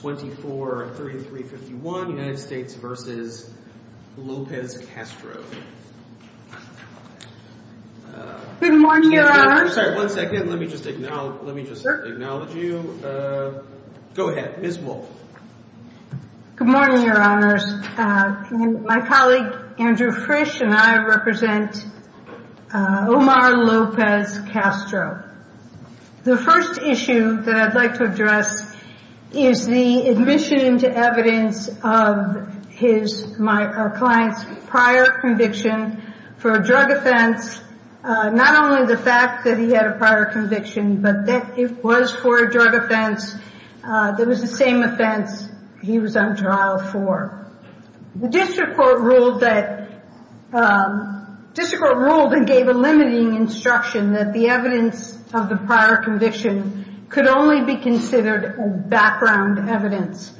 Good morning your honors. My colleague Andrew Frisch and I represent Omar Lopez Castro. The first issue that I'd like to address is the admission into evidence of our client's prior conviction for a drug offense. Not only the fact that he had a prior conviction, but that it was for a drug offense that was the same offense he was on trial for. The district court ruled and gave a limiting instruction that the evidence of the prior conviction could only be considered background evidence.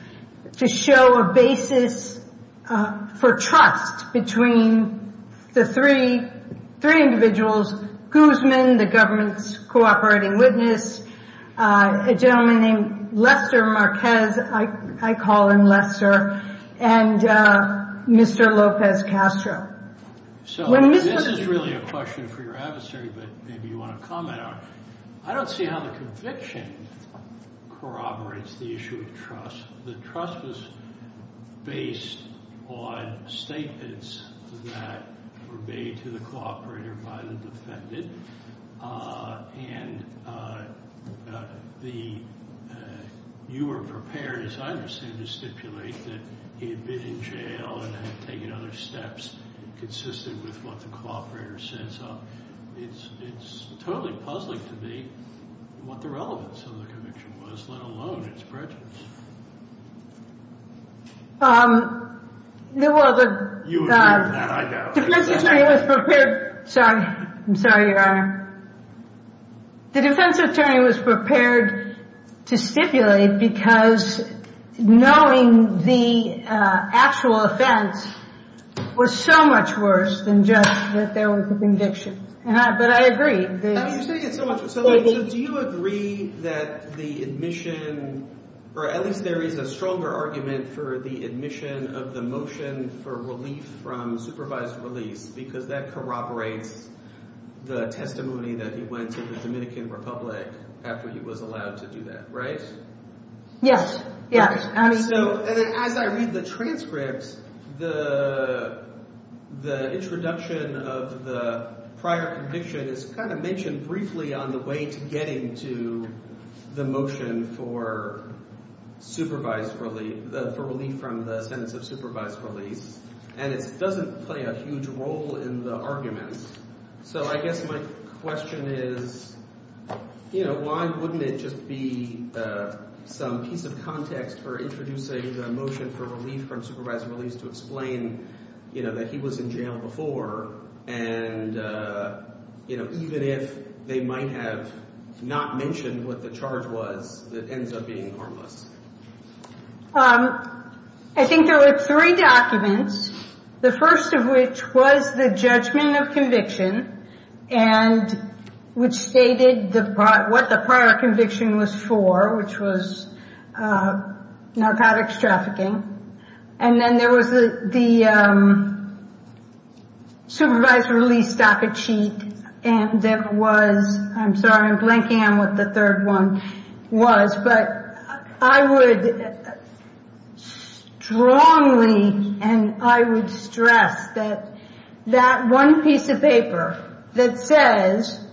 To show a basis for trust between the three individuals, Guzman, the government's cooperating witness, a gentleman named Lester Marquez, I call him Lester, and Mr. Lopez Castro. This is really a question for your adversary, but maybe you want to comment on it. I don't see how the conviction corroborates the issue of trust. The trust was based on statements that were made to the cooperator by the defendant. You were prepared, as I understand it, to stipulate that he had been in jail and had taken other steps consistent with what the cooperator said. It's totally puzzling to me what the relevance of the conviction was, let alone its prejudice. The defense attorney was prepared to stipulate because knowing the actual offense was so much worse than just that there was a conviction. But I agree. Do you agree that the admission, or at least there is a stronger argument for the admission of the motion for relief from supervised release, because that corroborates the testimony that he went to the Dominican Republic after he was allowed to do that, right? Yes. As I read the transcript, the introduction of the prior conviction is kind of mentioned briefly on the way to getting to the motion for relief from the sentence of supervised release. And it doesn't play a huge role in the arguments. So I guess my question is, why wouldn't it just be some piece of context for introducing the motion for relief from supervised release to explain that he was in jail before, even if they might have not mentioned what the charge was that ends up being harmless? I think there were three documents, the first of which was the judgment of conviction, and which stated what the prior conviction was for, which was narcotics trafficking. And then there was the supervised release docket sheet, and there was, I'm sorry, I'm blanking on what the third one was, but I would strongly, and I would stress that that one piece of paper that says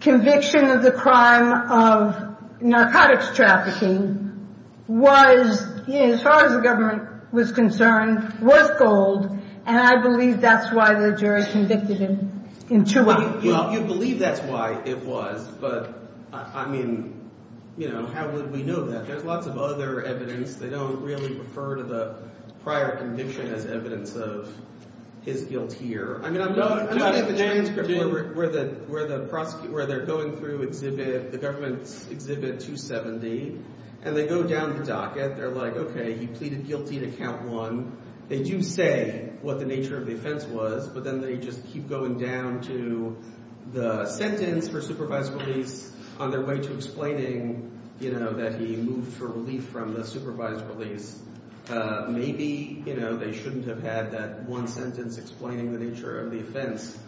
conviction of the crime of narcotics trafficking was, as far as the government was concerned, was gold. And I believe that's why the jury convicted him in two ways. Well, you believe that's why it was, but I mean, you know, how would we know that? There's lots of other evidence. They don't really refer to the prior conviction as evidence of his guilt here. I mean, I'm looking at the transcript where they're going through the government's Exhibit 270, and they go down the docket. They're like, okay, he pleaded guilty to count one. They do say what the nature of the offense was, but then they just keep going down to the sentence for supervised release on their way to explaining that he moved for relief from the supervised release. Maybe, you know, they shouldn't have had that one sentence explaining the nature of the offense,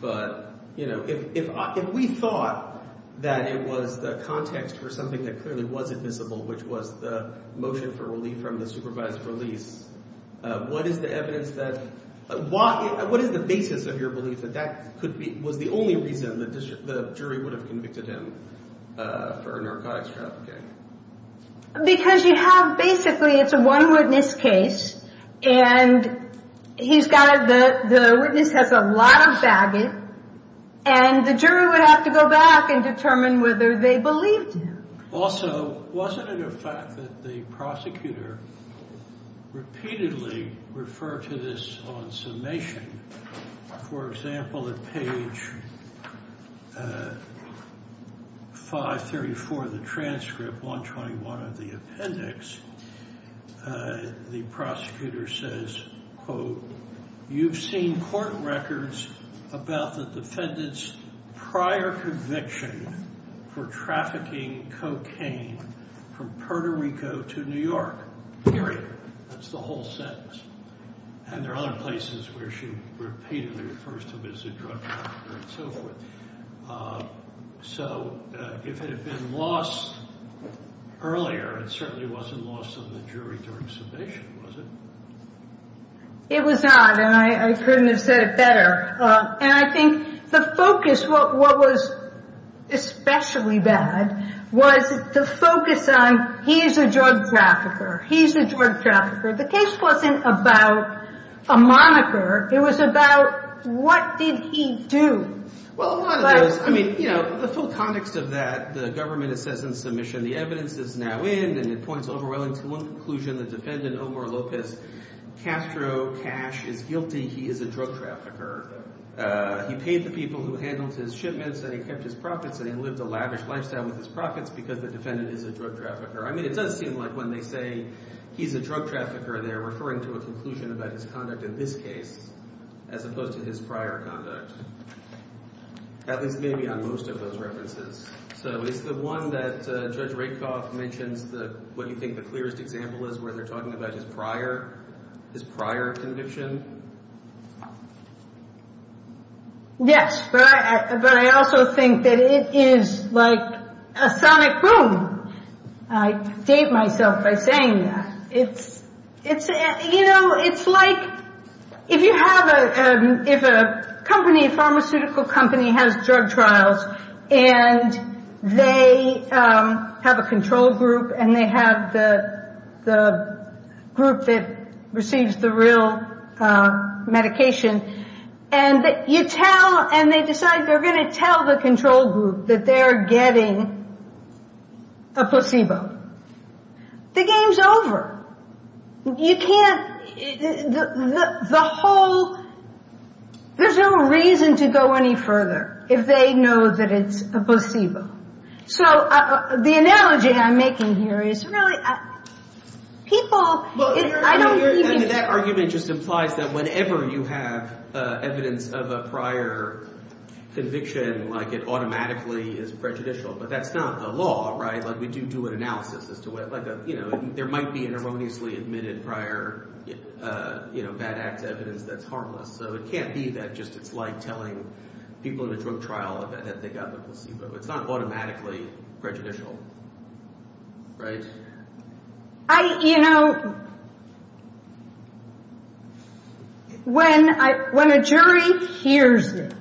but, you know, if we thought that it was the context for something that clearly wasn't visible, which was the motion for relief from the supervised release, what is the evidence that, what is the basis of your belief that that was the only reason the jury would have convicted him for narcotics trafficking? Because you have, basically, it's a one witness case, and he's got a, the witness has a lot of baggage, and the jury would have to go back and determine whether they believed him. Also, wasn't it a fact that the prosecutor repeatedly referred to this on summation? For example, at page 534 of the transcript, 121 of the appendix, the prosecutor says, quote, you've seen court records about the defendant's prior conviction for trafficking cocaine from Puerto Rico to New York, period. That's the whole sentence. And there are other places where she repeatedly refers to him as a drug trafficker and so forth. So if it had been lost earlier, it certainly wasn't lost on the jury during summation, was it? It was not, and I couldn't have said it better. And I think the focus, what was especially bad, was the focus on he is a drug trafficker, he's a drug trafficker. The case wasn't about a moniker. It was about what did he do? Well, a lot of those, I mean, you know, the full context of that, the government says in submission, the evidence is now in, and it points overwhelmingly to one conclusion, the defendant, Omar Lopez Castro Cash, is guilty. He is a drug trafficker. He paid the people who handled his shipments, and he kept his profits, and he lived a lavish lifestyle with his profits because the defendant is a drug trafficker. I mean, it does seem like when they say he's a drug trafficker, they're referring to a conclusion about his conduct in this case as opposed to his prior conduct, at least maybe on most of those references. So is the one that Judge Rakoff mentions what you think the clearest example is where they're talking about his prior conviction? Yes, but I also think that it is like a sonic boom. I state myself by saying that. It's, you know, it's like if you have a company, a pharmaceutical company has drug trials, and they have a control group, and they have the group that receives the real medication, and you tell, and they decide they're going to tell the control group that they're getting a placebo. The game's over. You can't, the whole, there's no reason to go any further if they know that it's a placebo. So the analogy I'm making here is really, people, I don't believe in. That argument just implies that whenever you have evidence of a prior conviction, like it automatically is prejudicial, but that's not the law, right? Like, we do do an analysis as to what, like, you know, there might be an erroneously admitted prior, you know, bad act evidence that's harmless. So it can't be that just it's like telling people in a drug trial that they got the placebo. It's not automatically prejudicial, right? I, you know, when I, when a jury hears it,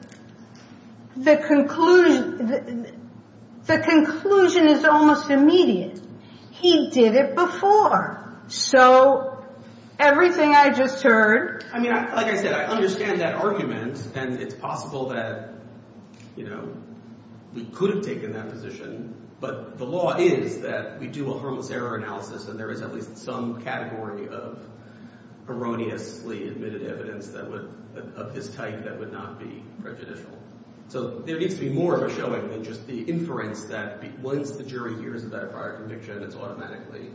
the conclusion, the conclusion is almost immediate. He did it before, so everything I just heard. I mean, like I said, I understand that argument, and it's possible that, you know, we could have taken that position, but the law is that we do a harmless error analysis, and there is at least some category of erroneously admitted evidence that would, of this type that would not be prejudicial. So there needs to be more of a showing than just the inference that once the jury hears of that prior conviction, it's automatically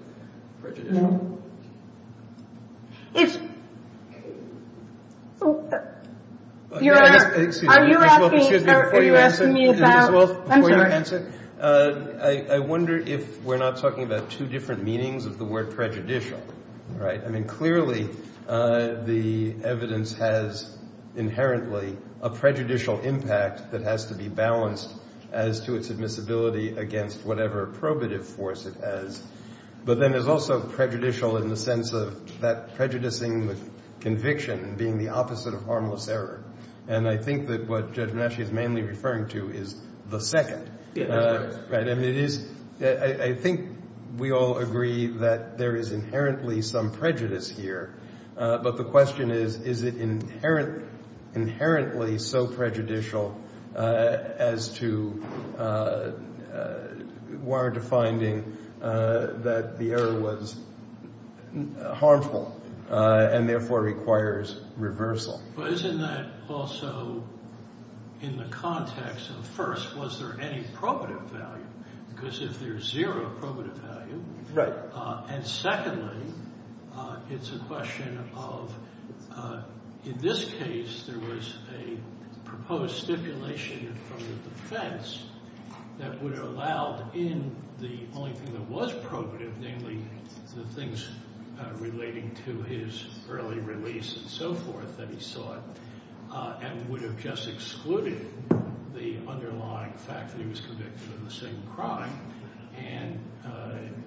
prejudicial. If you're, are you asking, are you asking me about, I'm sorry. I wonder if we're not talking about two different meanings of the word prejudicial, right? I mean, clearly the evidence has inherently a prejudicial impact that has to be balanced as to its admissibility against whatever probative force it has, but then there's also prejudicial in the sense of that prejudicing the conviction being the opposite of harmless error. And I think that what Judge Benacci is mainly referring to is the second. I mean, it is, I think we all agree that there is inherently some prejudice here, but the question is, is it inherently so prejudicial as to warrant a finding that the error was harmful and therefore requires reversal? But isn't that also in the context of first, was there any probative value? Because if there's zero probative value. Right. And secondly, it's a question of in this case there was a proposed stipulation from the defense that would have allowed in the only thing that was probative, namely the things relating to his early release and so forth that he sought, and would have just excluded the underlying fact that he was convicted of the same crime and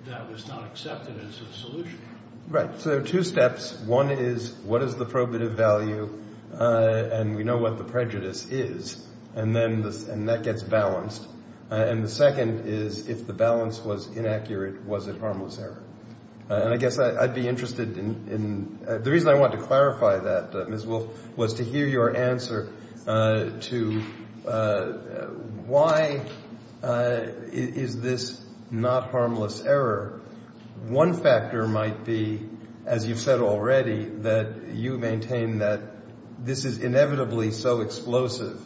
that was not accepted as a solution. Right. So there are two steps. One is what is the probative value, and we know what the prejudice is, and that gets balanced. And the second is if the balance was inaccurate, was it harmless error? And I guess I'd be interested in, the reason I wanted to clarify that, Ms. Wolf, was to hear your answer to why is this not harmless error. One factor might be, as you've said already, that you maintain that this is inevitably so explosive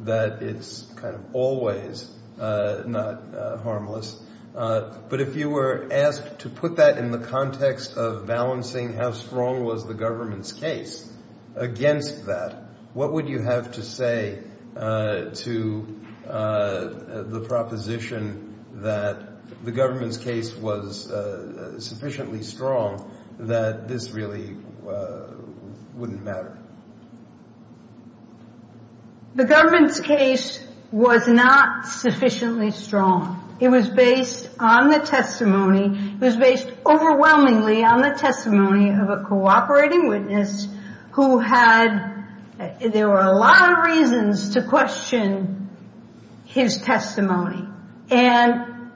that it's kind of always not harmless. But if you were asked to put that in the context of balancing how strong was the government's case against that, what would you have to say to the proposition that the government's case was sufficiently strong that this really wouldn't matter? The government's case was not sufficiently strong. It was based on the testimony, it was based overwhelmingly on the testimony of a cooperating witness who had, there were a lot of reasons to question his testimony. And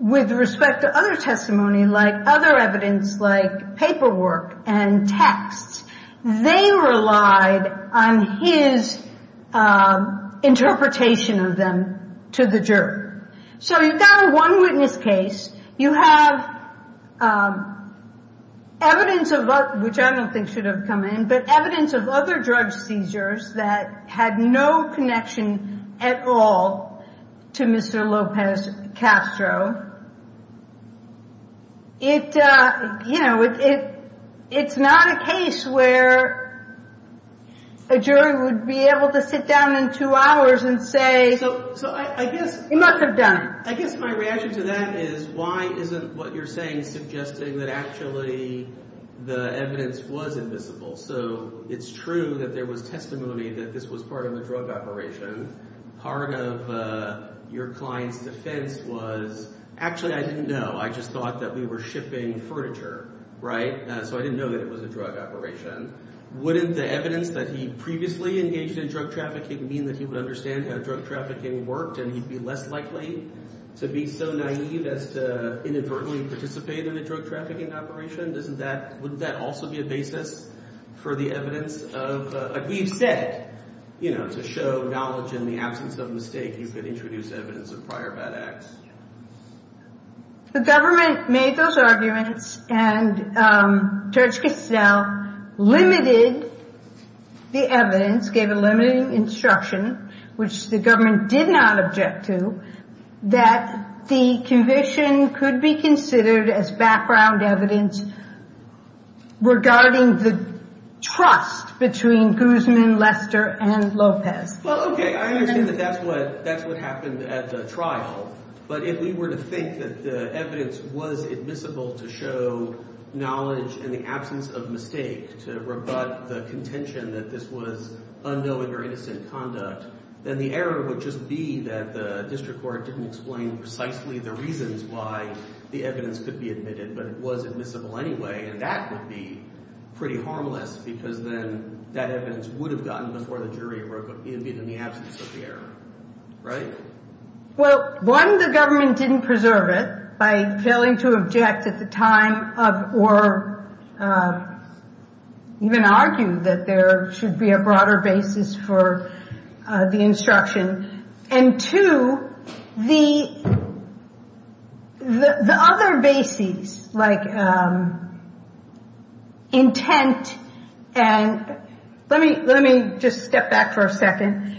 with respect to other testimony, like other evidence, like paperwork and texts, they relied on his interpretation of them to the jury. So you've got a one witness case. You have evidence of, which I don't think should have come in, but evidence of other drug seizures that had no connection at all to Mr. Lopez Castro. It, you know, it's not a case where a jury would be able to sit down in two hours and say, He must have done it. I guess my reaction to that is, why isn't what you're saying suggesting that actually the evidence was invisible? So it's true that there was testimony that this was part of a drug operation. Part of your client's defense was, actually I didn't know, I just thought that we were shipping furniture, right? So I didn't know that it was a drug operation. Wouldn't the evidence that he previously engaged in drug trafficking mean that he would understand how drug trafficking worked and he'd be less likely to be so naive as to inadvertently participate in a drug trafficking operation? Doesn't that, wouldn't that also be a basis for the evidence of, like we've said, you know, to show knowledge in the absence of mistake, you could introduce evidence of prior bad acts. The government made those arguments and Judge Casnell limited the evidence, gave a limiting instruction, which the government did not object to, that the conviction could be considered as background evidence regarding the trust between Guzman, Lester, and Lopez. Well, okay, I understand that that's what happened at the trial. But if we were to think that the evidence was admissible to show knowledge in the absence of mistake to rebut the contention that this was unknowing or innocent conduct, then the error would just be that the district court didn't explain precisely the reasons why the evidence could be admitted, but it was admissible anyway, and that would be pretty harmless because then that evidence would have gotten before the jury even in the absence of the error, right? Well, one, the government didn't preserve it by failing to object at the time or even argue that there should be a broader basis for the instruction. And two, the other basis, like intent, and let me just step back for a second.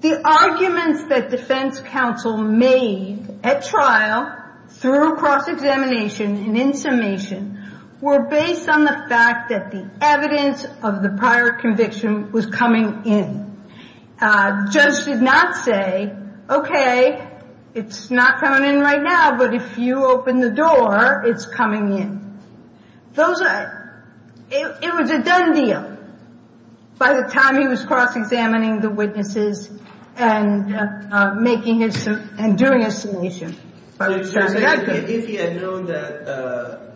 The arguments that defense counsel made at trial through cross-examination and in summation were based on the fact that the evidence of the prior conviction was coming in. Judge did not say, okay, it's not coming in right now, but if you open the door, it's coming in. It was a done deal by the time he was cross-examining the witnesses and doing a summation. If he had known that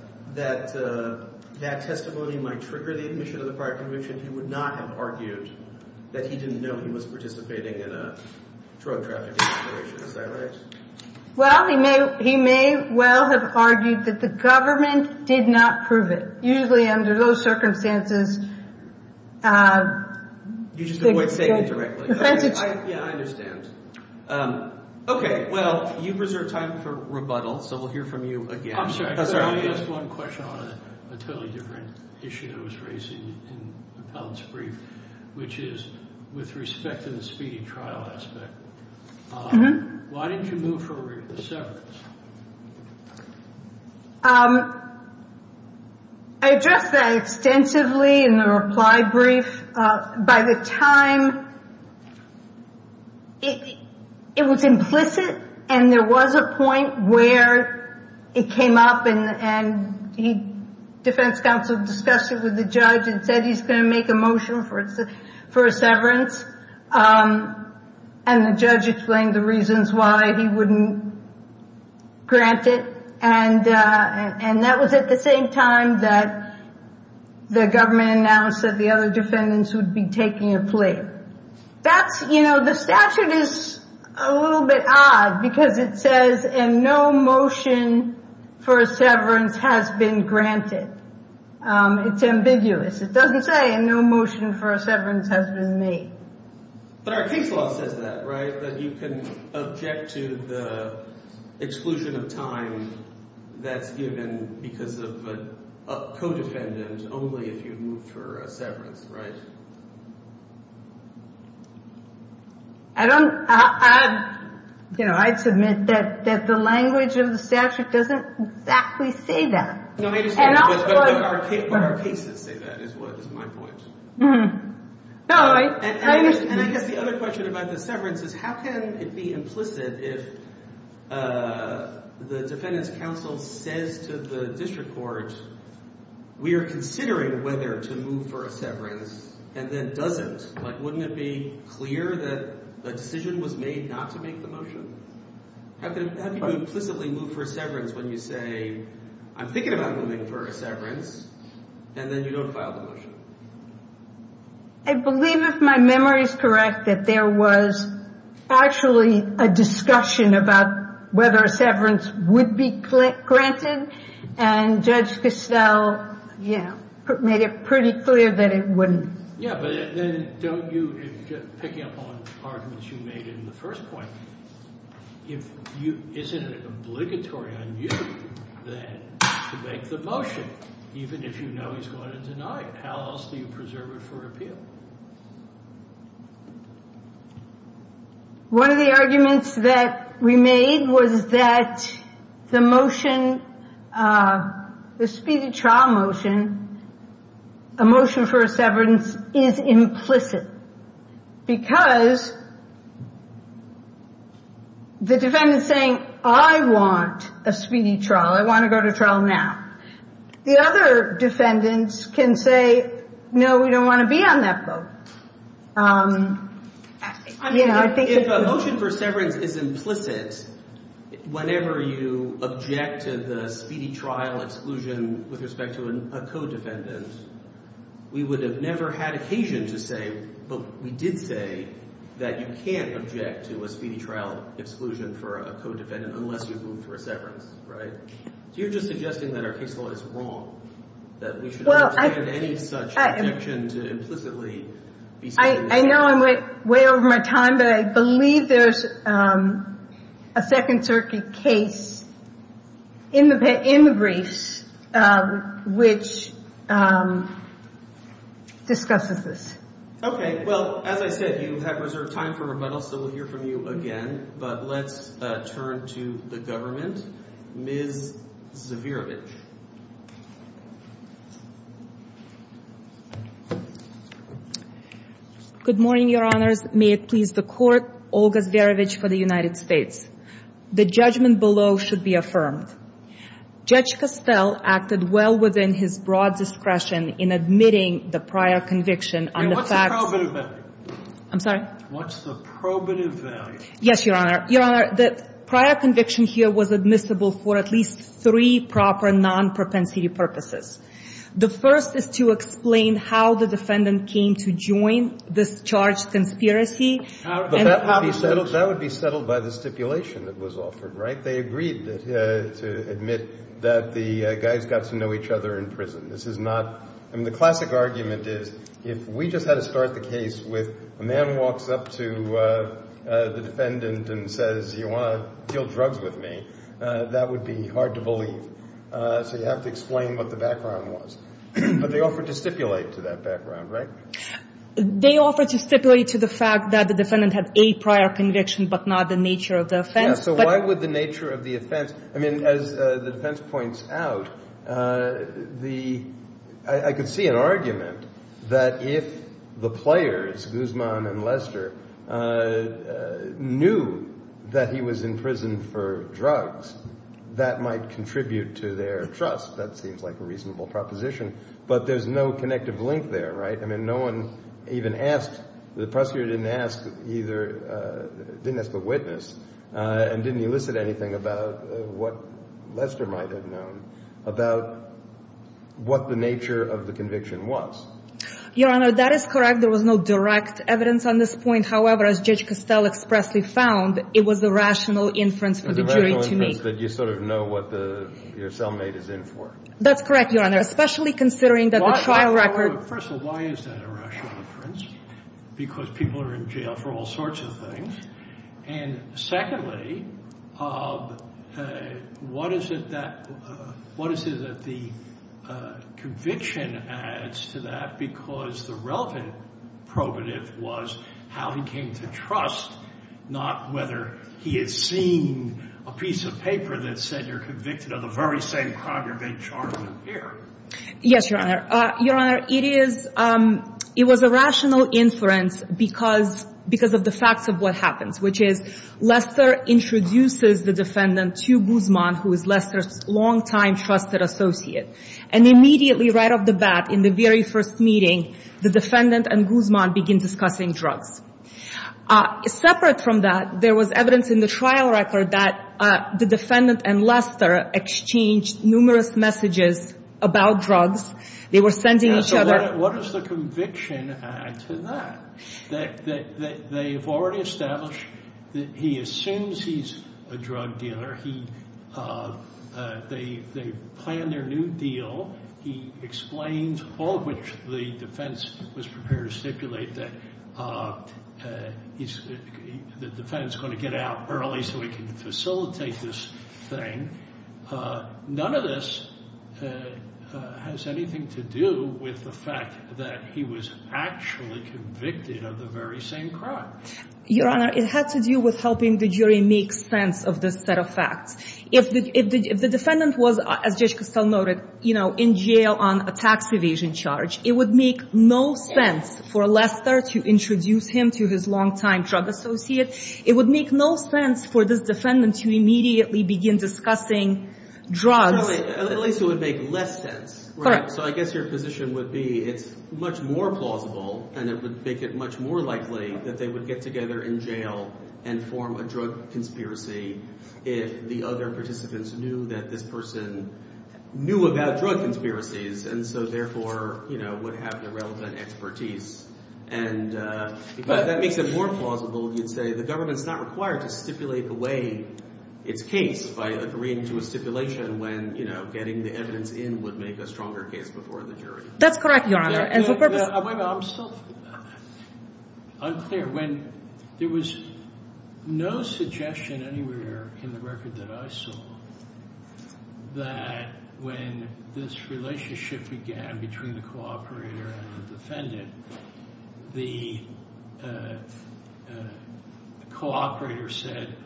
that testimony might trigger the admission of the prior conviction, he would not have argued that he didn't know he was participating in a drug trafficking operation. Is that right? Well, he may well have argued that the government did not prove it. Usually under those circumstances, you just avoid saying it directly. Yeah, I understand. Okay. Well, you've reserved time for rebuttal, so we'll hear from you again. I'm sorry. I just want to ask one question on a totally different issue that was raised in Appellant's brief, which is with respect to the speedy trial aspect. Why didn't you move for a severance? I addressed that extensively in the reply brief. By the time, it was implicit, and there was a point where it came up, and the defense counsel discussed it with the judge and said he's going to make a motion for a severance. And the judge explained the reasons why he wouldn't grant it. And that was at the same time that the government announced that the other defendants would be taking a plea. The statute is a little bit odd because it says, and no motion for a severance has been granted. It's ambiguous. It doesn't say, and no motion for a severance has been made. But our case law says that, right? That you can object to the exclusion of time that's given because of a co-defendant, only if you move for a severance, right? I'd submit that the language of the statute doesn't exactly say that. But our cases say that, is my point. And I guess the other question about the severance is, how can it be implicit if the defendant's counsel says to the district court, we are considering whether to move for a severance, and then doesn't? Like, wouldn't it be clear that a decision was made not to make the motion? How can you implicitly move for a severance when you say, I'm thinking about moving for a severance, and then you don't file the motion? I believe if my memory is correct, that there was actually a discussion about whether a severance would be granted, and Judge Castell made it pretty clear that it wouldn't. Yeah, but then don't you, picking up on arguments you made in the first point, isn't it obligatory on you then to make the motion, even if you know he's going to deny it? How else do you preserve it for appeal? One of the arguments that we made was that the motion, the speedy trial motion, a motion for a severance, is implicit. Because the defendant's saying, I want a speedy trial. I want to go to trial now. The other defendants can say, no, we don't want to be on that boat. I mean, if a motion for severance is implicit, whenever you object to the speedy trial exclusion with respect to a co-defendant, we would have never had occasion to say, but we did say that you can't object to a speedy trial exclusion for a co-defendant unless you've moved for a severance, right? So you're just suggesting that our case law is wrong, that we should not have any such objection to implicitly be saying that. I know I'm way over my time, but I believe there's a Second Circuit case in the briefs which discusses this. Okay. Well, as I said, you have reserved time for rebuttal, so we'll hear from you again. But let's turn to the government. Ms. Zverevich. Good morning, Your Honors. May it please the Court, Olga Zverevich for the United States. The judgment below should be affirmed. Judge Costell acted well within his broad discretion in admitting the prior conviction on the facts. And what's the probative value? I'm sorry? What's the probative value? Yes, Your Honor. Your Honor, the prior conviction here was admissible for at least three proper non-propensity purposes. The first is to explain how the defendant came to join this charged conspiracy and the conversation. That would be settled by the stipulation that was offered, right? In fact, they agreed to admit that the guys got to know each other in prison. This is not – I mean, the classic argument is if we just had to start the case with a man walks up to the defendant and says, you want to deal drugs with me, that would be hard to believe. So you have to explain what the background was. But they offered to stipulate to that background, right? They offered to stipulate to the fact that the defendant had a prior conviction but not the nature of the offense. So why would the nature of the offense – I mean, as the defense points out, I could see an argument that if the players, Guzman and Lester, knew that he was in prison for drugs, that might contribute to their trust. That seems like a reasonable proposition. But there's no connective link there, right? I mean, no one even asked – the prosecutor didn't ask either – and didn't elicit anything about what Lester might have known about what the nature of the conviction was. Your Honor, that is correct. There was no direct evidence on this point. However, as Judge Costell expressly found, it was a rational inference for the jury to make. A rational inference that you sort of know what your cellmate is in for. That's correct, Your Honor, especially considering that the trial record – First of all, why is that a rational inference? Because people are in jail for all sorts of things. And secondly, what is it that the conviction adds to that? Because the relevant probative was how he came to trust, not whether he had seen a piece of paper that said you're convicted of the very same crime you're being charged with here. Yes, Your Honor. Your Honor, it is – it was a rational inference because of the facts of what happens, which is Lester introduces the defendant to Guzman, who is Lester's longtime trusted associate. And immediately right off the bat in the very first meeting, the defendant and Guzman begin discussing drugs. Separate from that, there was evidence in the trial record that the defendant and Lester exchanged numerous messages about drugs. They were sending each other – So what does the conviction add to that? That they have already established that he assumes he's a drug dealer. He – they plan their new deal. He explains all of which the defense was prepared to stipulate that the defendant's going to get out early so he can facilitate this thing. None of this has anything to do with the fact that he was actually convicted of the very same crime. Your Honor, it had to do with helping the jury make sense of this set of facts. If the defendant was, as Judge Costell noted, you know, in jail on a tax evasion charge, it would make no sense for Lester to introduce him to his longtime drug associate. It would make no sense for this defendant to immediately begin discussing drugs. At least it would make less sense. Correct. So I guess your position would be it's much more plausible and it would make it much more likely that they would get together in jail and form a drug conspiracy if the other participants knew that this person knew about drug conspiracies and so therefore, you know, would have the relevant expertise. And if that makes it more plausible, you'd say the government's not required to stipulate the way it's cased by agreeing to a stipulation when, you know, getting the evidence in would make a stronger case before the jury. That's correct, Your Honor. And for purpose— Wait a minute. I'm still unclear. When there was no suggestion anywhere in the record that I saw that when this relationship began between the cooperator and the defendant, the cooperator said,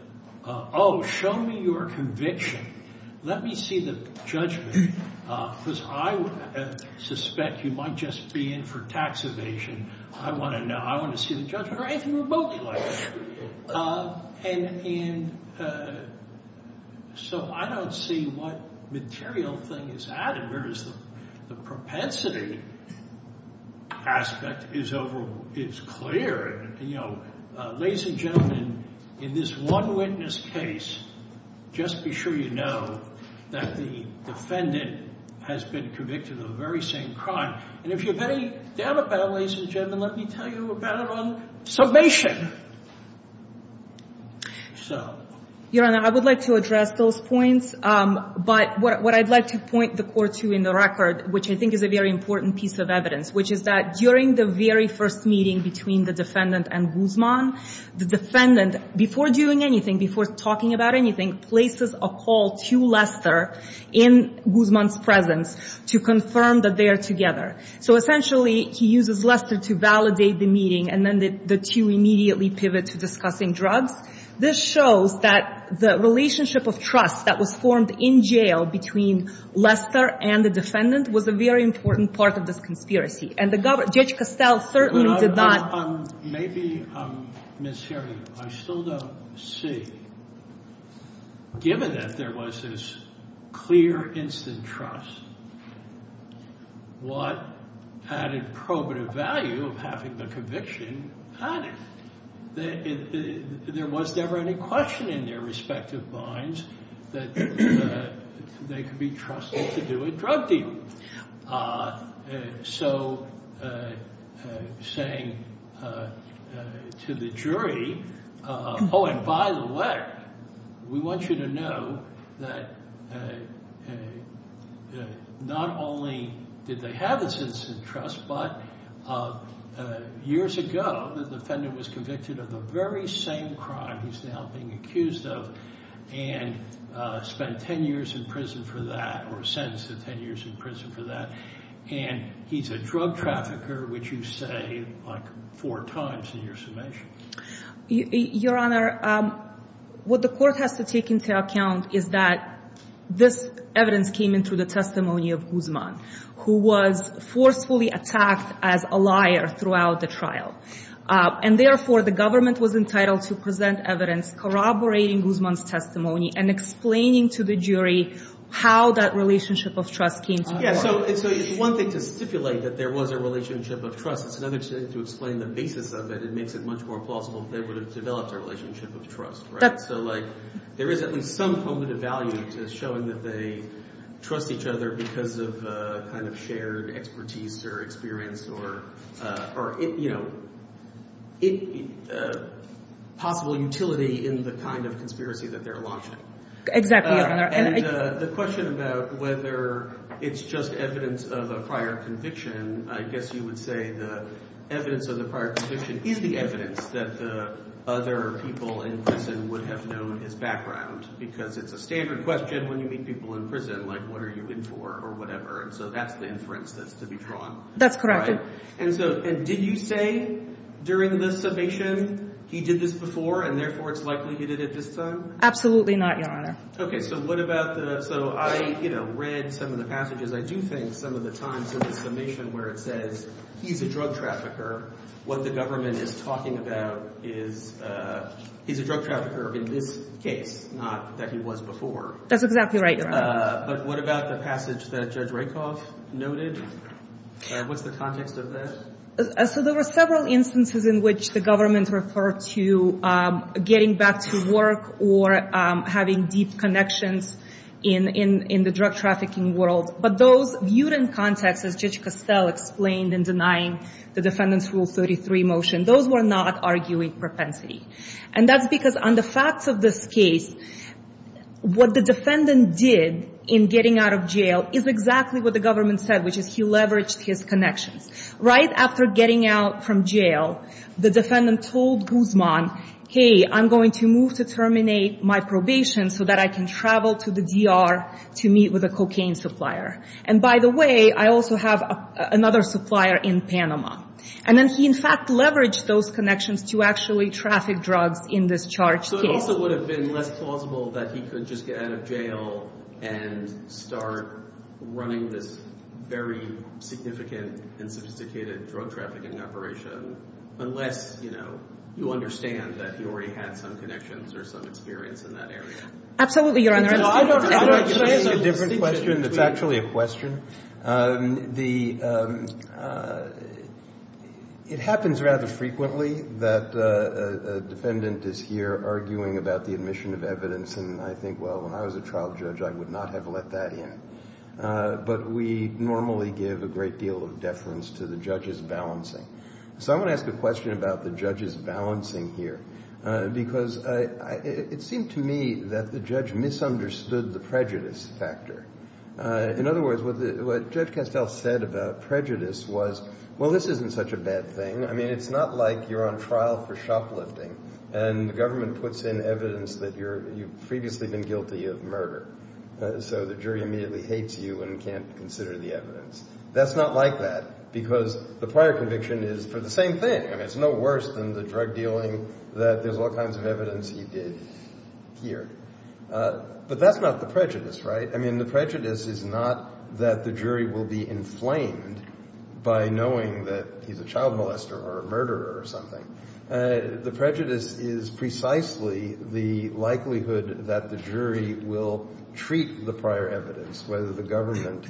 oh, show me your conviction. Let me see the judgment because I suspect you might just be in for tax evasion. I want to know. I want to see the judgment or anything remotely like that. And so I don't see what material thing is added, whereas the propensity aspect is clear. And, you know, ladies and gentlemen, in this one witness case, just be sure you know that the defendant has been convicted of the very same crime. And if you have any doubt about it, ladies and gentlemen, let me tell you about it on summation. So— Your Honor, I would like to address those points. But what I'd like to point the court to in the record, which I think is a very important piece of evidence, which is that during the very first meeting between the defendant and Guzman, the defendant, before doing anything, before talking about anything, places a call to Lester in Guzman's presence to confirm that they are together. So essentially he uses Lester to validate the meeting, and then the two immediately pivot to discussing drugs. This shows that the relationship of trust that was formed in jail between Lester and the defendant was a very important part of this conspiracy. And Judge Castell certainly did not— Maybe, Ms. Herring, I still don't see, given that there was this clear instant trust, what added probative value of having the conviction added? There was never any question in their respective minds that they could be trusted to do a drug deal. So saying to the jury, oh, and by the way, we want you to know that not only did they have this instant trust, but years ago the defendant was convicted of the very same crime he's now being accused of and spent 10 years in prison for that or sentenced to 10 years in prison for that. And he's a drug trafficker, which you say like four times in your summation. Your Honor, what the court has to take into account is that this evidence came in through the testimony of Guzman, who was forcefully attacked as a liar throughout the trial. And therefore, the government was entitled to present evidence corroborating Guzman's testimony and explaining to the jury how that relationship of trust came to be. Yeah, so it's one thing to stipulate that there was a relationship of trust. It's another to explain the basis of it. It makes it much more plausible that they would have developed a relationship of trust, right? So like there is at least some probative value to showing that they trust each other because of kind of shared expertise or experience or, you know, possible utility in the kind of conspiracy that they're launching. Exactly, Your Honor. And the question about whether it's just evidence of a prior conviction, I guess you would say the evidence of the prior conviction is the evidence that the other people in prison would have known his background because it's a standard question when you meet people in prison, like what are you in for or whatever. And so that's the inference that's to be drawn. That's correct. And so did you say during the summation he did this before and therefore it's likely he did it this time? Absolutely not, Your Honor. Okay, so what about the – so I, you know, read some of the passages. I do think some of the times in the summation where it says he's a drug trafficker, what the government is talking about is he's a drug trafficker in this case, not that he was before. That's exactly right, Your Honor. But what about the passage that Judge Rakoff noted? What's the context of that? So there were several instances in which the government referred to getting back to work or having deep connections in the drug trafficking world. But those viewed in context, as Judge Costell explained in denying the defendant's Rule 33 motion, those were not arguing propensity. And that's because on the facts of this case, what the defendant did in getting out of jail is exactly what the government said, which is he leveraged his connections. Right after getting out from jail, the defendant told Guzman, hey, I'm going to move to terminate my probation so that I can travel to the DR to meet with a cocaine supplier. And by the way, I also have another supplier in Panama. And then he, in fact, leveraged those connections to actually traffic drugs in this charged case. So it also would have been less plausible that he could just get out of jail and start running this very significant and sophisticated drug trafficking operation, unless you understand that he already had some connections or some experience in that area. Absolutely, Your Honor. I have a different question that's actually a question. It happens rather frequently that a defendant is here arguing about the admission of evidence, and I think, well, when I was a trial judge, I would not have let that in. But we normally give a great deal of deference to the judge's balancing. So I want to ask a question about the judge's balancing here, because it seemed to me that the judge misunderstood the prejudice factor. In other words, what Judge Castell said about prejudice was, well, this isn't such a bad thing. I mean, it's not like you're on trial for shoplifting, and the government puts in evidence that you've previously been guilty of murder, so the jury immediately hates you and can't consider the evidence. That's not like that, because the prior conviction is for the same thing. I mean, it's no worse than the drug dealing that there's all kinds of evidence he did here. But that's not the prejudice, right? I mean, the prejudice is not that the jury will be inflamed by knowing that he's a child molester or a murderer or something. The prejudice is precisely the likelihood that the jury will treat the prior evidence, whether the government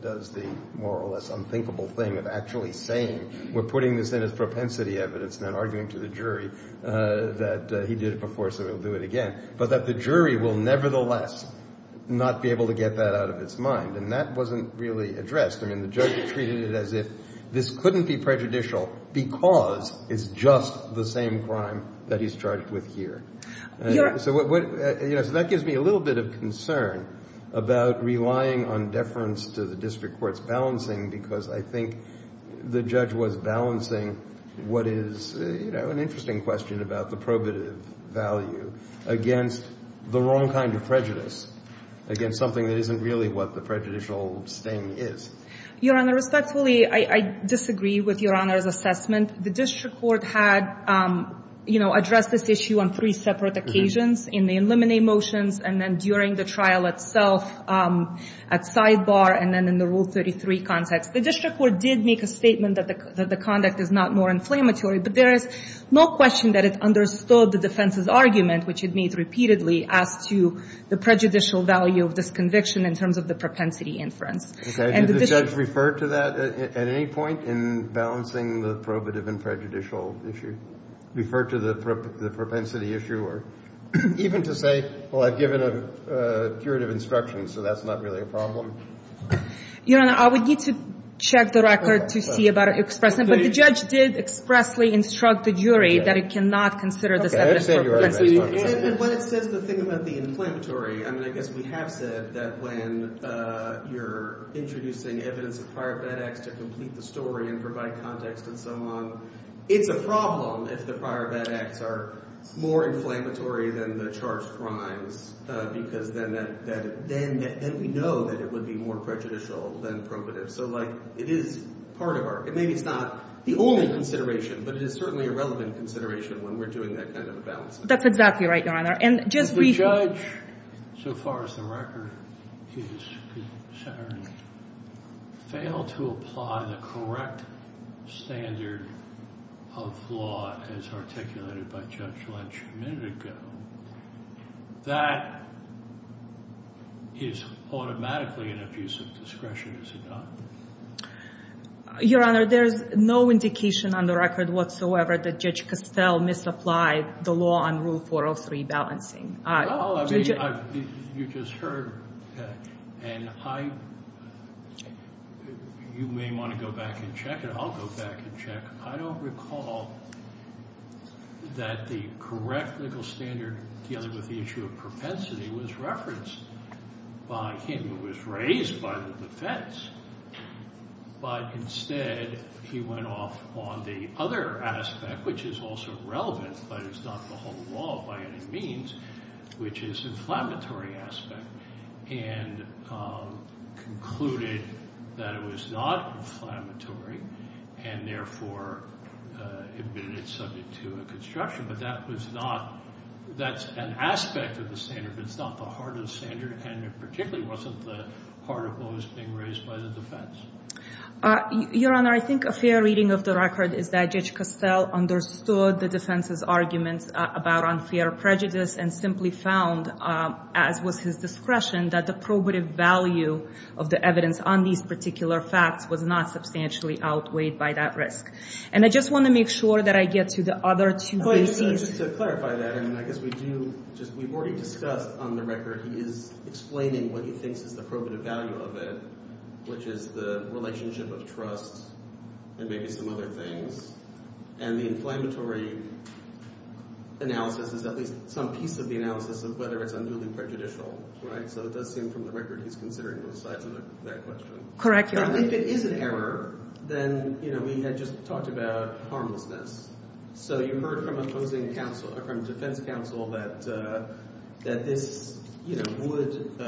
does the more or less unthinkable thing of actually saying we're putting this in as propensity evidence and then arguing to the jury that he did it before so he'll do it again, but that the jury will nevertheless not be able to get that out of its mind. And that wasn't really addressed. I mean, the judge treated it as if this couldn't be prejudicial because it's just the same crime that he's charged with here. So that gives me a little bit of concern about relying on deference to the district court's balancing because I think the judge was balancing what is an interesting question about the probative value against the wrong kind of prejudice, against something that isn't really what the prejudicial sting is. Your Honor, respectfully, I disagree with Your Honor's assessment. The district court had, you know, addressed this issue on three separate occasions, in the eliminate motions and then during the trial itself at sidebar and then in the Rule 33 context. The district court did make a statement that the conduct is not more inflammatory, but there is no question that it understood the defense's argument, which it made repeatedly as to the prejudicial value of this conviction in terms of the propensity inference. Did the judge refer to that at any point in balancing the probative and prejudicial issue? Refer to the propensity issue or even to say, well, I've given a curative instruction, so that's not really a problem? Your Honor, I would need to check the record to see about expressing it. But the judge did expressly instruct the jury that it cannot consider this evidence for propensity inference. When it says the thing about the inflammatory, I mean, I guess we have said that when you're introducing evidence of prior bad acts to complete the story and provide context and so on, it's a problem if the prior bad acts are more inflammatory than the charged crimes, because then we know that it would be more prejudicial than probative. So, like, it is part of our, maybe it's not the only consideration, but it is certainly a relevant consideration when we're doing that kind of a balance. That's exactly right, Your Honor. If the judge, so far as the record is concerned, failed to apply the correct standard of law as articulated by Judge Lynch a minute ago, that is automatically an abuse of discretion, is it not? Your Honor, there is no indication on the record whatsoever that Judge Costell misapplied the law on Rule 403 balancing. Oh, I mean, you just heard, and I, you may want to go back and check it. I'll go back and check. I don't recall that the correct legal standard dealing with the issue of propensity was referenced by him. It was raised by the defense, but instead he went off on the other aspect, which is also relevant but is not the whole law by any means, which is inflammatory aspect, and concluded that it was not inflammatory, and therefore admitted it's subject to a construction. But that was not, that's an aspect of the standard, but it's not the heart of the standard, and it particularly wasn't the heart of what was being raised by the defense. Your Honor, I think a fair reading of the record is that Judge Costell understood the defense's arguments about unfair prejudice and simply found, as was his discretion, that the probative value of the evidence on these particular facts was not substantially outweighed by that risk. And I just want to make sure that I get to the other two cases. Just to clarify that, and I guess we've already discussed on the record he is explaining what he thinks is the probative value of it, which is the relationship of trust and maybe some other things, and the inflammatory analysis is at least some piece of the analysis of whether it's unduly prejudicial. So it does seem from the record he's considering both sides of that question. Correct, Your Honor. If it is an error, then we had just talked about harmlessness. So you heard from opposing defense counsel that this would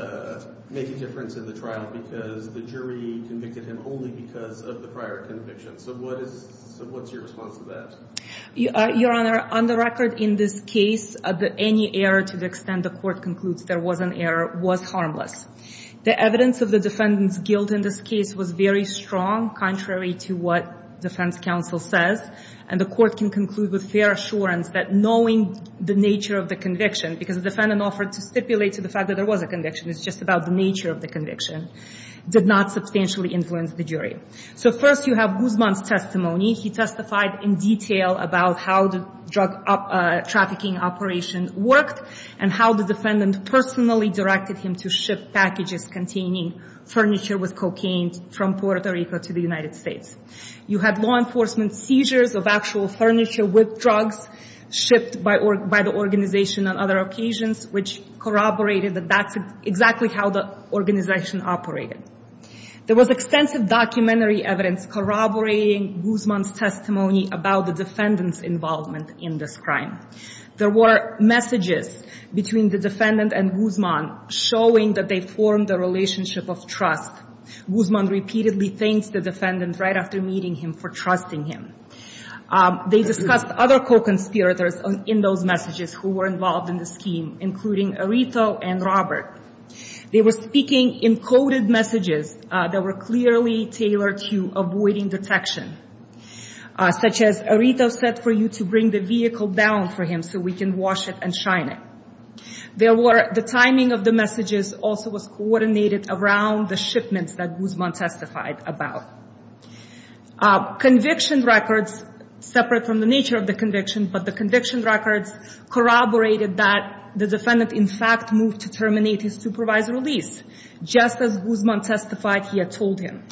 make a difference in the trial because the jury convicted him only because of the prior conviction. So what is your response to that? Your Honor, on the record in this case, any error to the extent the court concludes there was an error was harmless. The evidence of the defendant's guilt in this case was very strong, contrary to what defense counsel says, and the court can conclude with fair assurance that knowing the nature of the conviction, because the defendant offered to stipulate to the fact that there was a conviction, it's just about the nature of the conviction, did not substantially influence the jury. So first you have Guzman's testimony. He testified in detail about how the drug trafficking operation worked and how the defendant personally directed him to ship packages containing furniture with cocaine from Puerto Rico to the United States. You had law enforcement seizures of actual furniture with drugs shipped by the organization on other occasions, which corroborated that that's exactly how the organization operated. There was extensive documentary evidence corroborating Guzman's testimony about the defendant's involvement in this crime. There were messages between the defendant and Guzman showing that they formed a relationship of trust. Guzman repeatedly thanked the defendant right after meeting him for trusting him. They discussed other co-conspirators in those messages who were involved in the scheme, including Arito and Robert. They were speaking in coded messages that were clearly tailored to avoiding detection, such as Arito said for you to bring the vehicle down for him so we can wash it and shine it. The timing of the messages also was coordinated around the shipments that Guzman testified about. Conviction records, separate from the nature of the conviction, but the conviction records corroborated that the defendant in fact moved to terminate his supervised release, just as Guzman testified he had told him.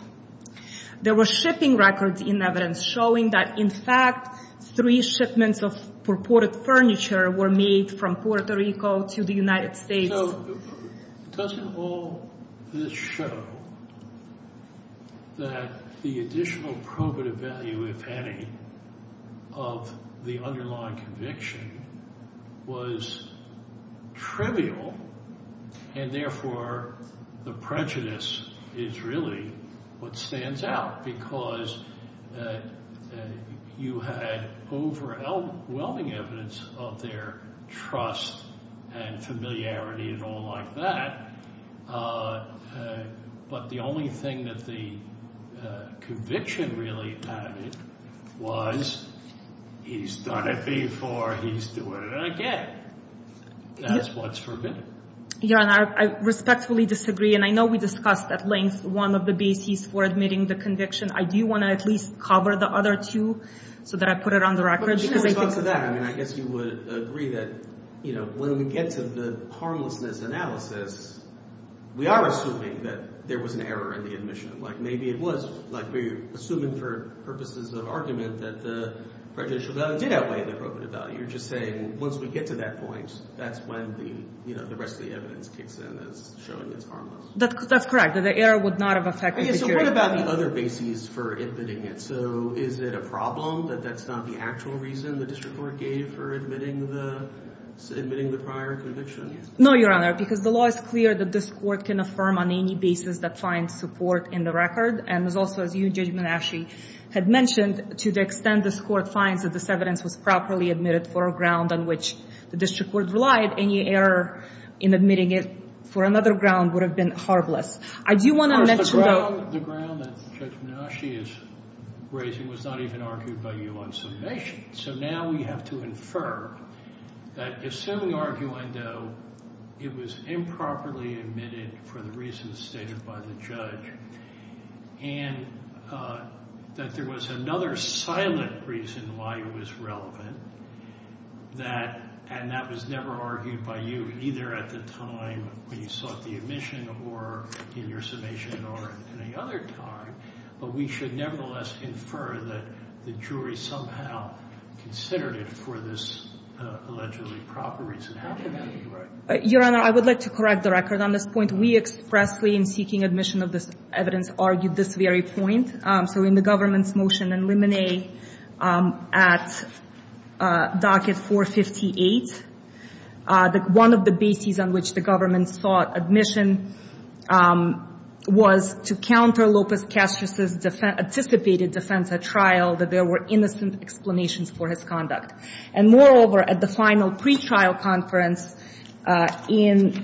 There were shipping records in evidence showing that, in fact, three shipments of purported furniture were made from Puerto Rico to the United States. So doesn't all this show that the additional probative value, if any, of the underlying conviction was trivial and therefore the prejudice is really what stands out because you had overwhelming evidence of their trust and familiarity and all like that, but the only thing that the conviction really added was he's done it before, he's doing it again. That's what's forbidden. Your Honor, I respectfully disagree, and I know we discussed at length one of the bases for admitting the conviction. I do want to at least cover the other two so that I put it on the record. I guess you would agree that when we get to the harmlessness analysis, we are assuming that there was an error in the admission. Maybe it was. We're assuming for purposes of argument that the prejudicial value did outweigh the probative value. But you're just saying once we get to that point, that's when the rest of the evidence kicks in as showing it's harmless. That's correct. The error would not have affected the prejudicial value. So what about the other bases for admitting it? So is it a problem that that's not the actual reason the district court gave for admitting the prior conviction? No, Your Honor, because the law is clear that this court can affirm on any basis that finds support in the record. And also, as you, Judge Minasci, had mentioned, to the extent this court finds that this evidence was properly admitted for a ground on which the district court relied, any error in admitting it for another ground would have been harmless. Of course, the ground that Judge Minasci is raising was not even argued by you on summation. So now we have to infer that assuming arguendo, it was improperly admitted for the reasons stated by the judge, and that there was another silent reason why it was relevant, and that was never argued by you, either at the time when you sought the admission or in your summation or at any other time. But we should nevertheless infer that the jury somehow considered it for this allegedly proper reason. Your Honor, I would like to correct the record on this point. We expressly, in seeking admission of this evidence, argued this very point. So in the government's motion in limine at docket 458, one of the bases on which the government sought admission was to counter Lopez-Castro's anticipated defense at trial, that there were innocent explanations for his conduct. And moreover, at the final pretrial conference on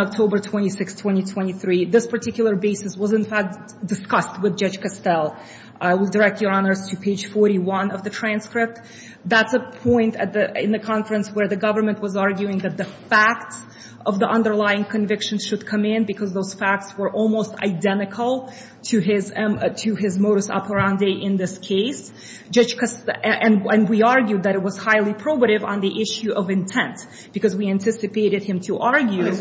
October 26, 2023, this particular basis was, in fact, discussed with Judge Costell. I will direct your honors to page 41 of the transcript. That's a point in the conference where the government was arguing that the facts of the underlying conviction should come in because those facts were almost identical to his modus operandi in this case. And we argued that it was highly probative on the issue of intent, because we anticipated him to argue that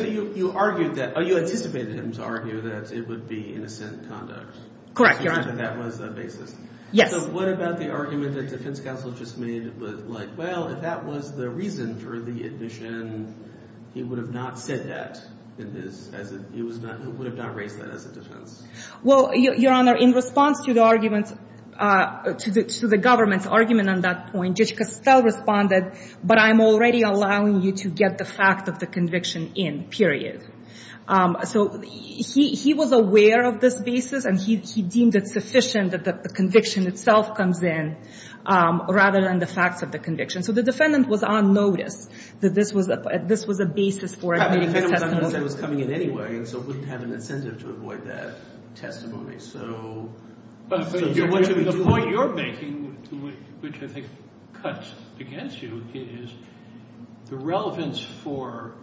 it would be innocent conduct. Correct, Your Honor. So that was the basis. Yes. So what about the argument that defense counsel just made? Like, well, if that was the reason for the admission, he would have not said that. He would have not raised that as a defense. Well, Your Honor, in response to the government's argument on that point, Judge Costell responded, but I'm already allowing you to get the fact of the conviction in, period. So he was aware of this basis, and he deemed it sufficient that the conviction itself comes in rather than the facts of the conviction. So the defendant was on notice that this was a basis for admitting his testimony. The defendant was on notice it was coming in anyway, and so it wouldn't have an incentive to avoid that testimony. But the point you're making, which I think cuts against you, is the relevance for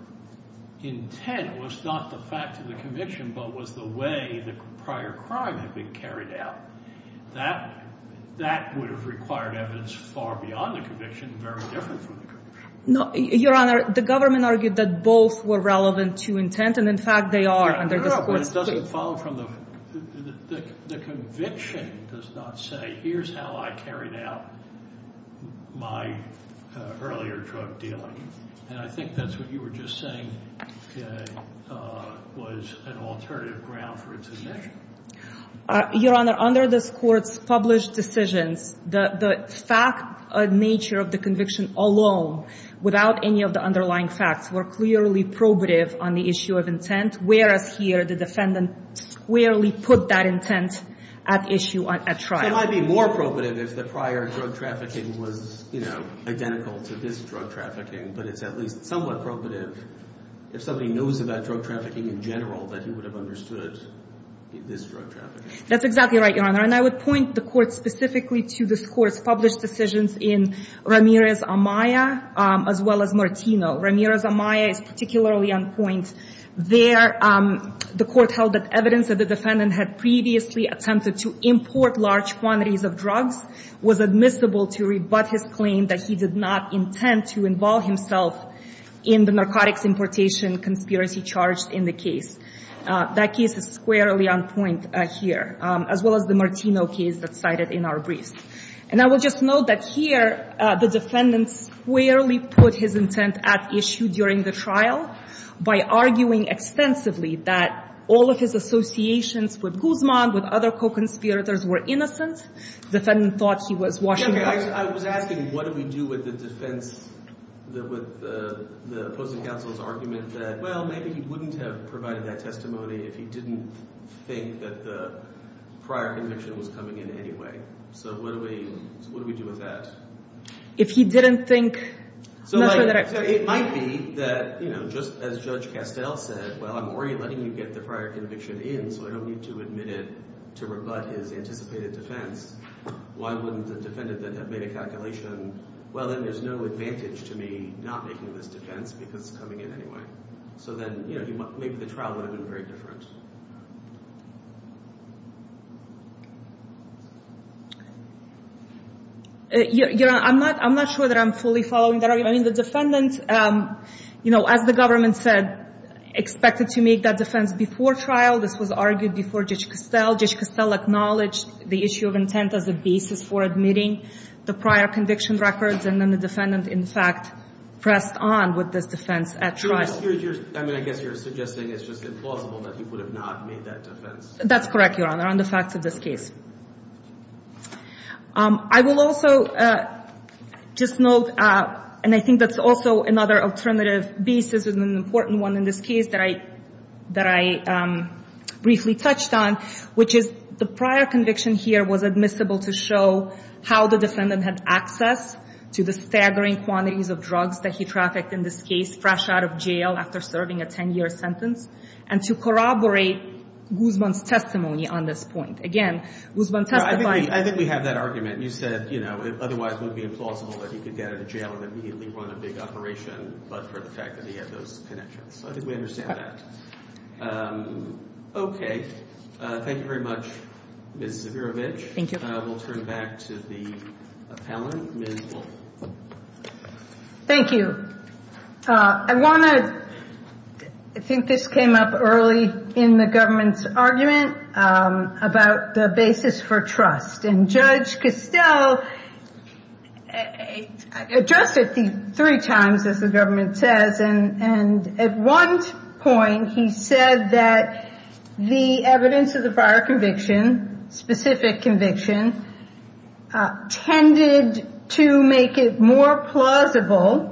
intent was not the fact of the conviction, but was the way the prior crime had been carried out. That would have required evidence far beyond the conviction, very different from the conviction. Your Honor, the government argued that both were relevant to intent, and in fact they are under this court's case. But it doesn't follow from the conviction does not say, here's how I carried out my earlier drug dealing. And I think that's what you were just saying was an alternative ground for its admission. Your Honor, under this court's published decisions, the fact nature of the conviction alone without any of the underlying facts were clearly probative on the issue of intent, whereas here the defendant squarely put that intent at issue at trial. So it might be more probative if the prior drug trafficking was, you know, identical to this drug trafficking. But it's at least somewhat probative if somebody knows about drug trafficking in general that he would have understood this drug trafficking. That's exactly right, Your Honor. And I would point the court specifically to this court's published decisions in Ramirez-Amaya as well as Martino. Ramirez-Amaya is particularly on point there. The court held that evidence that the defendant had previously attempted to import large quantities of drugs was admissible to rebut his claim that he did not intend to involve himself in the narcotics importation conspiracy charged in the case. That case is squarely on point here, as well as the Martino case that's cited in our briefs. And I would just note that here the defendant squarely put his intent at issue during the trial by arguing extensively that all of his associations with Guzman, with other co-conspirators, were innocent. The defendant thought he was washing up. I was asking what do we do with the defense, with the opposing counsel's argument that, well, maybe he wouldn't have provided that testimony if he didn't think that the prior conviction was coming in anyway. So what do we do with that? So it might be that just as Judge Castell said, well, I'm already letting you get the prior conviction in, so I don't need to admit it to rebut his anticipated defense. Why wouldn't the defendant then have made a calculation, well, then there's no advantage to me not making this defense because it's coming in anyway. So then maybe the trial would have been very different. Your Honor, I'm not sure that I'm fully following that. I mean, the defendant, you know, as the government said, expected to make that defense before trial. This was argued before Judge Castell. Judge Castell acknowledged the issue of intent as a basis for admitting the prior conviction records, and then the defendant, in fact, pressed on with this defense at trial. I mean, I guess you're suggesting it's just implausible that he would have not made that defense. That's correct, Your Honor, on the facts of this case. I will also just note, and I think that's also another alternative basis, and an important one in this case that I briefly touched on, which is the prior conviction here was admissible to show how the defendant had access to the staggering quantities of drugs that he trafficked in this case fresh out of jail after serving a 10-year sentence, and to corroborate Guzman's testimony on this point. Again, Guzman testified... I think we have that argument. You said, you know, it otherwise would be implausible that he could get out of jail and immediately run a big operation, but for the fact that he had those connections. I think we understand that. Okay. Thank you very much, Ms. Zvirovich. Thank you. We'll turn back to the appellant, Ms. Wolfe. Thank you. I want to... I think this came up early in the government's argument about the basis for trust, and Judge Costell addressed it three times, as the government says, and at one point he said that the evidence of the prior conviction, specific conviction, tended to make it more plausible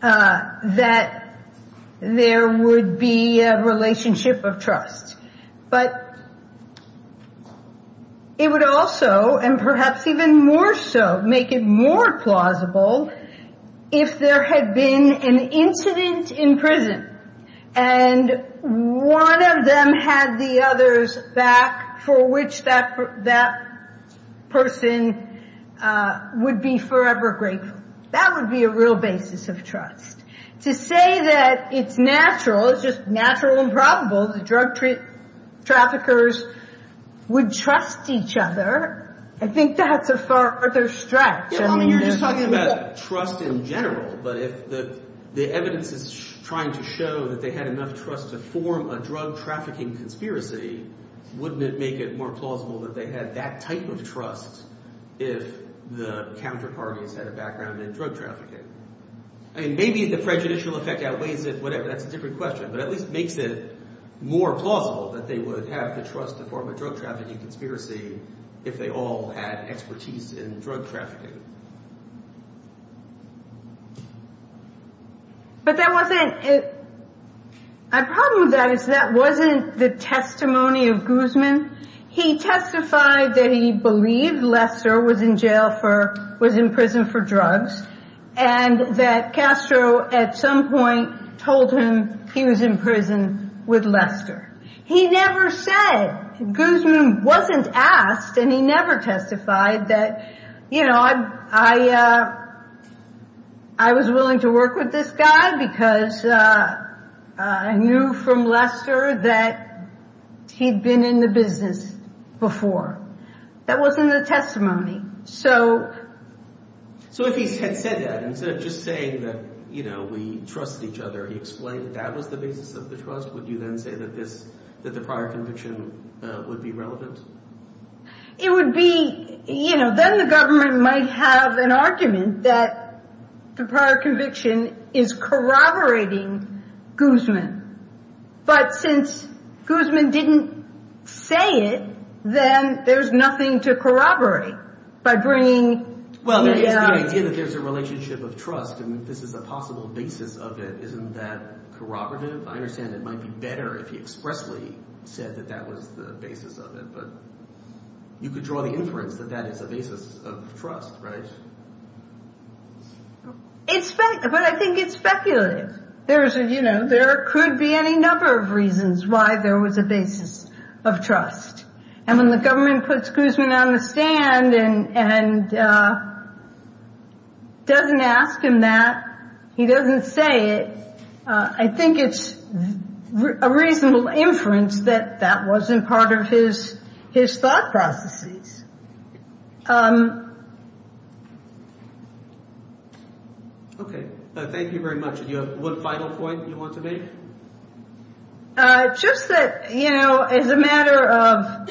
that there would be a relationship of trust. But it would also, and perhaps even more so, make it more plausible if there had been an incident in prison and one of them had the other's back for which that person would be forever grateful. That would be a real basis of trust. To say that it's natural, it's just natural and probable, the drug traffickers would trust each other, I think that's a far other stretch. I mean, you're just talking about trust in general, but if the evidence is trying to show that they had enough trust to form a drug trafficking conspiracy, wouldn't it make it more plausible that they had that type of trust if the counterparties had a background in drug trafficking? I mean, maybe the prejudicial effect outweighs it, whatever, that's a different question, but at least it makes it more plausible that they would have the trust to form a drug trafficking conspiracy if they all had expertise in drug trafficking. But the problem with that is that wasn't the testimony of Guzman. He testified that he believed Lester was in prison for drugs and that Castro at some point told him he was in prison with Lester. He never said, Guzman wasn't asked and he never testified that, you know, I was willing to work with this guy because I knew from Lester that he'd been in the business before. That wasn't the testimony. So if he had said that, instead of just saying that, you know, we trust each other, he explained that that was the basis of the trust, would you then say that this, that the prior conviction would be relevant? It would be, you know, then the government might have an argument that the prior conviction is corroborating Guzman. But since Guzman didn't say it, then there's nothing to corroborate by bringing... Well, the idea that there's a relationship of trust and this is a possible basis of it, isn't that corroborative? I understand it might be better if he expressly said that that was the basis of it, but you could draw the inference that that is a basis of trust, right? It's, but I think it's speculative. There is, you know, there could be any number of reasons why there was a basis of trust. And when the government puts Guzman on the stand and doesn't ask him that, he doesn't say it, I think it's a reasonable inference that that wasn't part of his thought processes. Okay, thank you very much. Do you have one final point you want to make? Just that, you know, as a matter of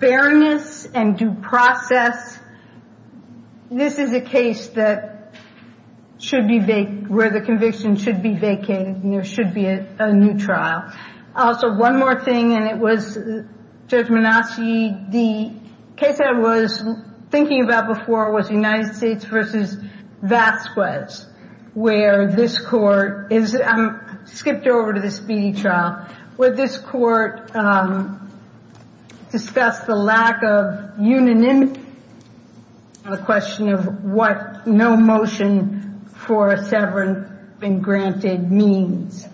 fairness and due process, this is a case that should be, where the conviction should be vacated, and there should be a new trial. Also, one more thing, and it was Judge Manassi, the case I was thinking about before was United States v. Vasquez, where this court, I skipped over to the speedy trial, where this court discussed the lack of unanimity on the question of what no motion for a severance been granted means.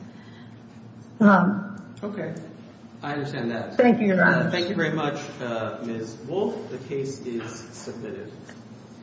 Okay, I understand that. Thank you, Your Honor. Thank you very much, Ms. Wolfe. The case is submitted.